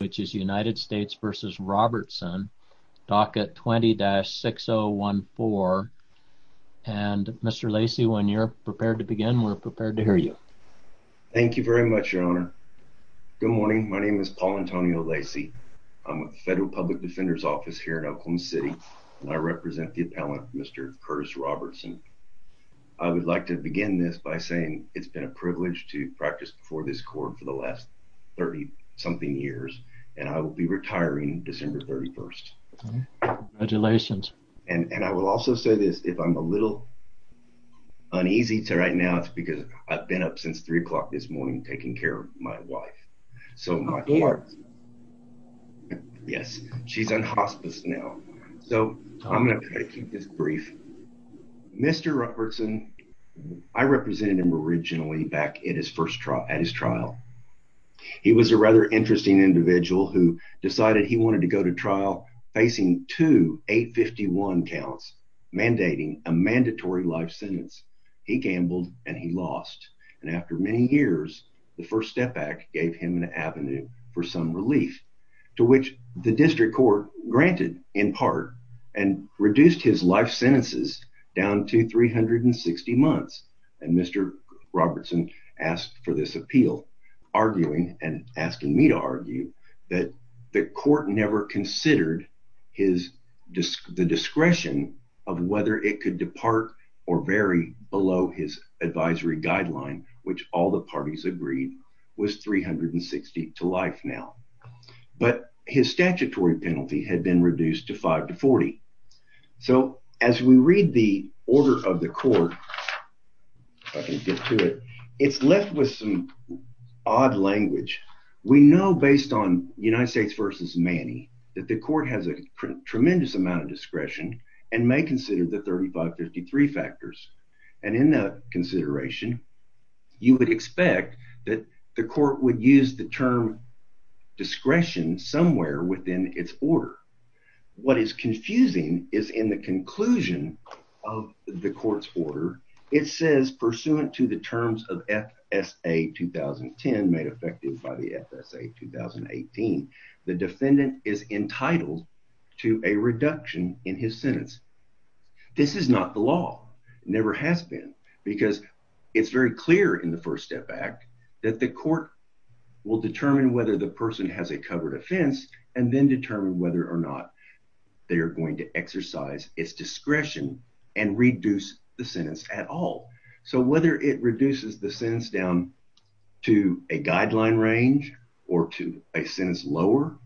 which is United States v. Robertson, docket 20-6014. And Mr. Lacey, when you're prepared to begin, we're prepared to hear you. Thank you very much, Your Honor. Good morning. My name is Paul Antonio Lacey. I'm with the Federal Public Defender's Office here in Oakland City and I represent the appellant, Mr. Curtis Robertson. I would like to begin this by saying it's been a privilege to practice before this court for the last 30-something years and I will be retiring December 31st. Congratulations. And I will also say this, if I'm a little uneasy to right now, it's because I've been up since 3 o'clock this morning taking care of my wife. So my wife, yes, she's on hospice now. So I'm going to try to keep this brief. Mr. Robertson, I represented him originally back at his first trial, at his trial. He was a rather interesting individual who decided he wanted to go to trial facing two 851 counts mandating a mandatory life sentence. He gambled and he lost. And after many years, the first step back gave him an avenue for some relief to which the district court granted in part and reduced his life sentences down to 360 months. And Mr. Robertson asked for this appeal, arguing and asking me to argue that the court never considered the discretion of whether it could depart or vary below his advisory guideline, which all the parties agreed was 360 to life now. But his statutory penalty had been reduced to 5 to 40. So as we read the order of the court, it's left with some odd language. We know based on United States versus Manny, that the court has a tremendous amount of discretion and may consider the factors. And in that consideration, you would expect that the court would use the term discretion somewhere within its order. What is confusing is in the conclusion of the court's order, it says pursuant to the terms of FSA 2010 made effective by the FSA 2018, the defendant is entitled to a reduction in his sentence. This is not the law. It never has been because it's very clear in the first step back that the court will determine whether the person has a covered offense and then determine whether or not they are going to exercise its discretion and reduce the sentence at all. So whether it reduces the sentence down to a guideline range or to a sentence lower,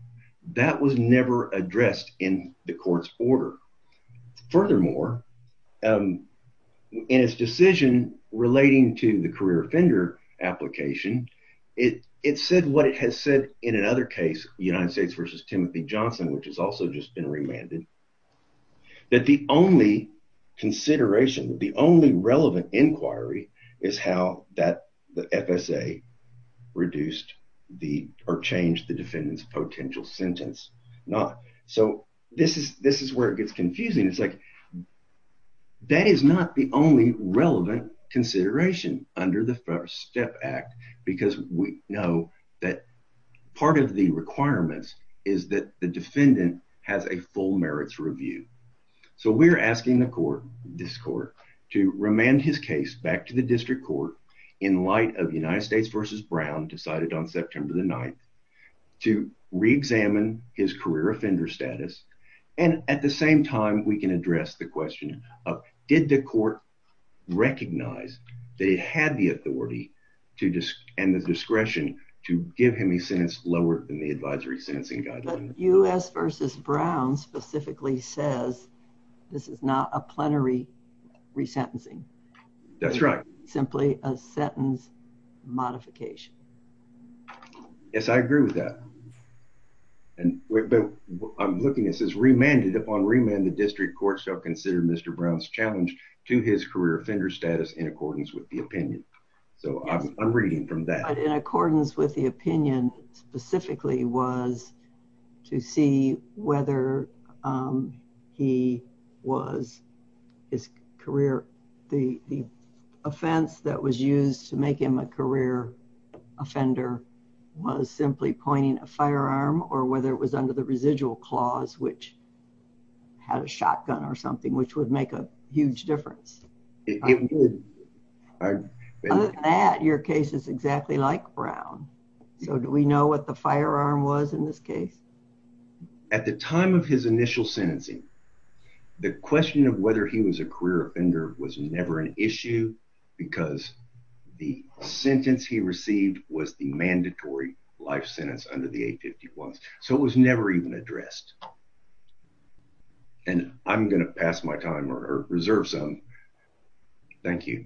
that was never addressed in the court's order. Furthermore, in its decision relating to the career offender application, it said what it has said in another case, United States versus Timothy Johnson, which has also just been remanded, that the only consideration, the only relevant inquiry is how the FSA reduced or changed the defendant's potential sentence. So this is where it gets confusing. It's like that is not the only relevant consideration under the First Step Act because we know that part of the requirements is that the defendant has a full merits review. So we're asking the court, this court, to remand his case back to the district court in light of United States versus Brown decided on September the 9th to re-examine his career offender status. And at the same time, we can address the question of did the court recognize that it had the authority and the discretion to give him a advisory sentencing guideline. But U.S. versus Brown specifically says this is not a plenary resentencing. That's right. Simply a sentence modification. Yes, I agree with that. And I'm looking, it says remanded upon remand, the district court shall consider Mr. Brown's challenge to his career offender status in accordance with the opinion. So I'm reading from that. In accordance with the opinion specifically was to see whether he was, his career, the offense that was used to make him a career offender was simply pointing a firearm or whether it was under the residual clause which had a shotgun or something which would make a difference. Other than that, your case is exactly like Brown. So do we know what the firearm was in this case? At the time of his initial sentencing, the question of whether he was a career offender was never an issue because the sentence he received was the mandatory life sentence under the 851. So it was never even addressed. And I'm going to pass my time or reserve some. Thank you.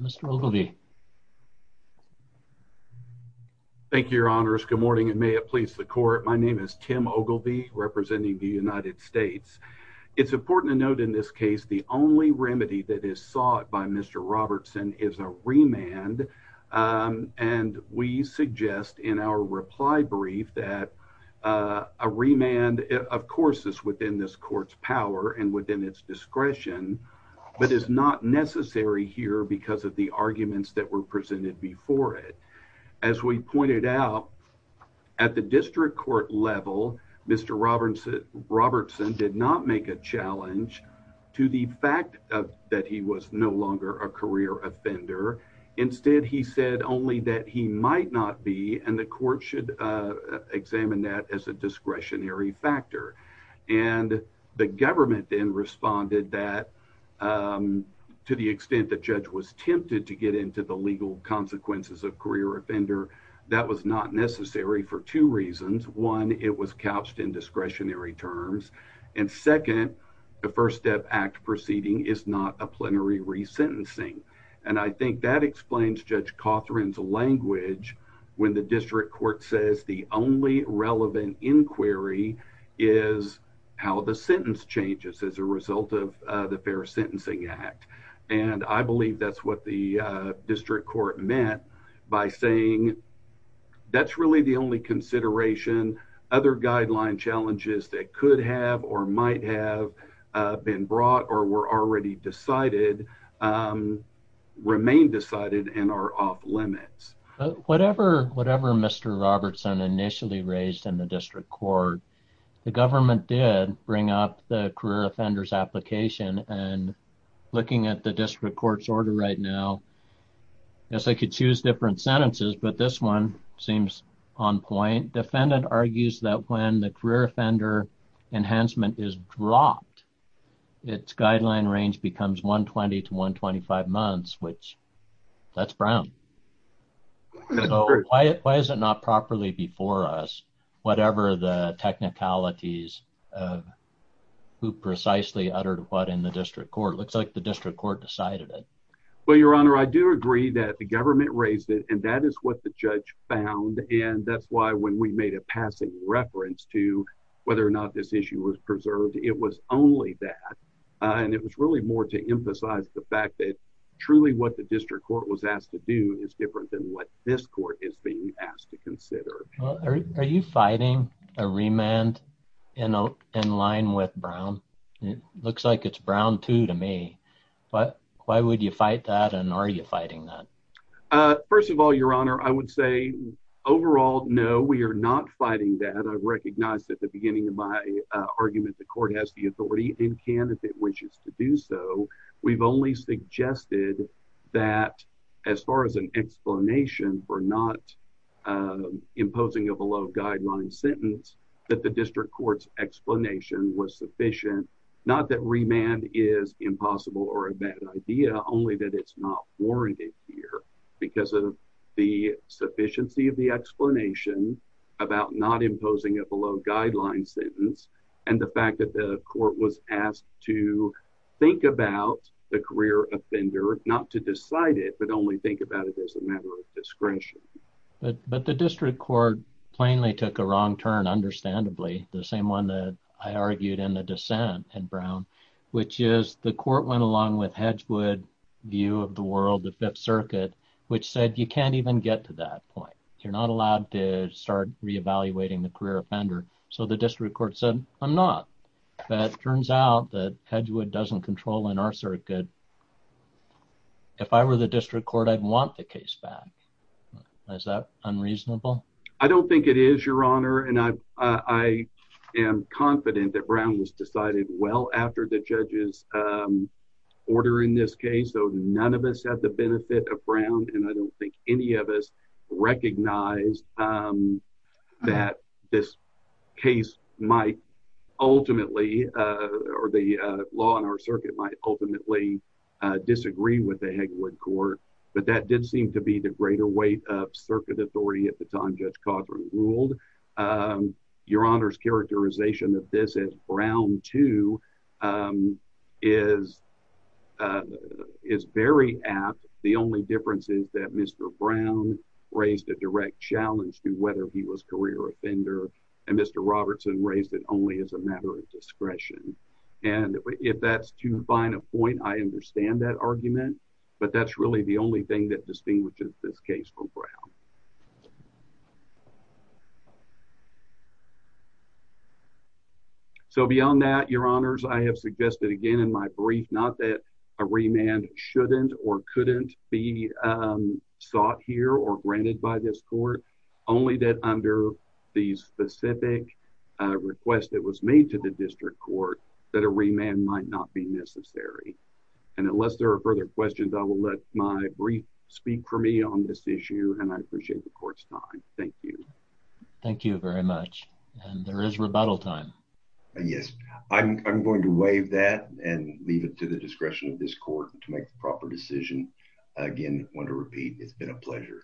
Mr. Ogilvie. Thank you, your honors. Good morning and may it please the court. My name is Tim Ogilvie representing the United States. It's important to note in this case, the only remedy that is Mr. Robertson is a remand. And we suggest in our reply brief that a remand, of course, is within this court's power and within its discretion, but is not necessary here because of the arguments that were presented before it. As we pointed out at the district court level, Mr. Robertson Robertson did not make a challenge to the fact that he was no longer a career offender. Instead, he said only that he might not be. And the court should examine that as a discretionary factor. And the government then responded that to the extent the judge was tempted to get into the legal consequences of career offender. That was not necessary for two reasons. One, it was couched in discretionary terms. And second, the First Step Act proceeding is not a plenary resentencing. And I think that explains Judge Cothran's language when the district court says the only relevant inquiry is how the sentence changes as a result of the Fair Sentencing Act. And I believe that's what the district court meant by saying that's really the only consideration. Other guideline challenges that could have or might have been brought or were already decided remain decided and are off limits. Whatever Mr. Robertson initially raised in the district court, the government did bring up the career offenders application. And looking at the district court's order right now, I guess I could choose different sentences, but this one seems on point. Defendant argues that when the career offender enhancement is dropped, its guideline range becomes 120 to 125 months, which that's brown. So why is it not properly before us, whatever the technicalities of who precisely uttered what in the district court? Looks like the district court decided it. Well, Your Honor, I do agree that the government raised it and that is what the judge found. And that's why when we made a passing reference to whether or not this issue was preserved, it was only that. And it was really more to emphasize the fact that truly what the district court was asked to do is different than what this court is being asked to consider. Are you fighting a remand in line with Brown? It looks like it's Brown too to me. Why would you fight that? And are you fighting that? First of all, Your Honor, I would say overall, no, we are not fighting that. I've recognized at the beginning of my argument, the court has the authority and candidate wishes to do so. We've only suggested that as far as an explanation for not imposing of a low guideline sentence, that the district court's explanation was sufficient. Not that remand is impossible or a bad idea, only that it's not warranted here because of the sufficiency of the explanation about not imposing a below guideline sentence. And the fact that the court was asked to think about the career offender, not to decide it, but only think about it as a matter of discretion. But the district court plainly took a wrong turn, understandably, the same one that I argued in the dissent in Brown, which is the court went along with Hedgewood view of the world, the Fifth Circuit, which said, you can't even get to that point. You're not allowed to start reevaluating the career offender. So the district court said, I'm not. But it turns out that Hedgewood doesn't control in our circuit. If I were the district court, I'd want the case back. Is that unreasonable? I don't think it is, Your Honor. And I am confident that Brown was decided well after the judges order in this case. So none of us have the benefit of Brown. And I don't think any of us recognize that this case might ultimately or the law in our circuit might ultimately disagree with the Hedgewood court. But that did seem to be the greater weight of circuit authority at the time Judge Codron ruled. Your Honor's characterization of this as Brown 2 is very apt. The only difference is that Mr. Brown raised a direct challenge to whether he was career offender, and Mr. Robertson raised it only as a matter of discretion. And if that's too fine a point, I understand that argument. But that's really the only thing that distinguishes this case from Brown. So beyond that, Your Honors, I have suggested again in my brief, not that a remand shouldn't or couldn't be sought here or granted by this court, only that under the specific request that was made to the district court that a remand might not be necessary. And unless there are further questions, I will let my brief speak for me on this issue. And I appreciate the court's time. Thank you. Thank you very much. And there is rebuttal time. Yes, I'm going to waive that and leave it to the discretion of this court to make the proper decision. Again, I want to repeat, it's been a pleasure.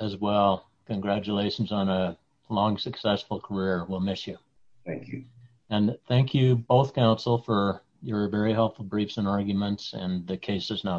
As well, congratulations on a long, successful career. We'll miss you. Thank you. And thank you, both counsel, for your very helpful briefs and arguments, and the case is now submitted.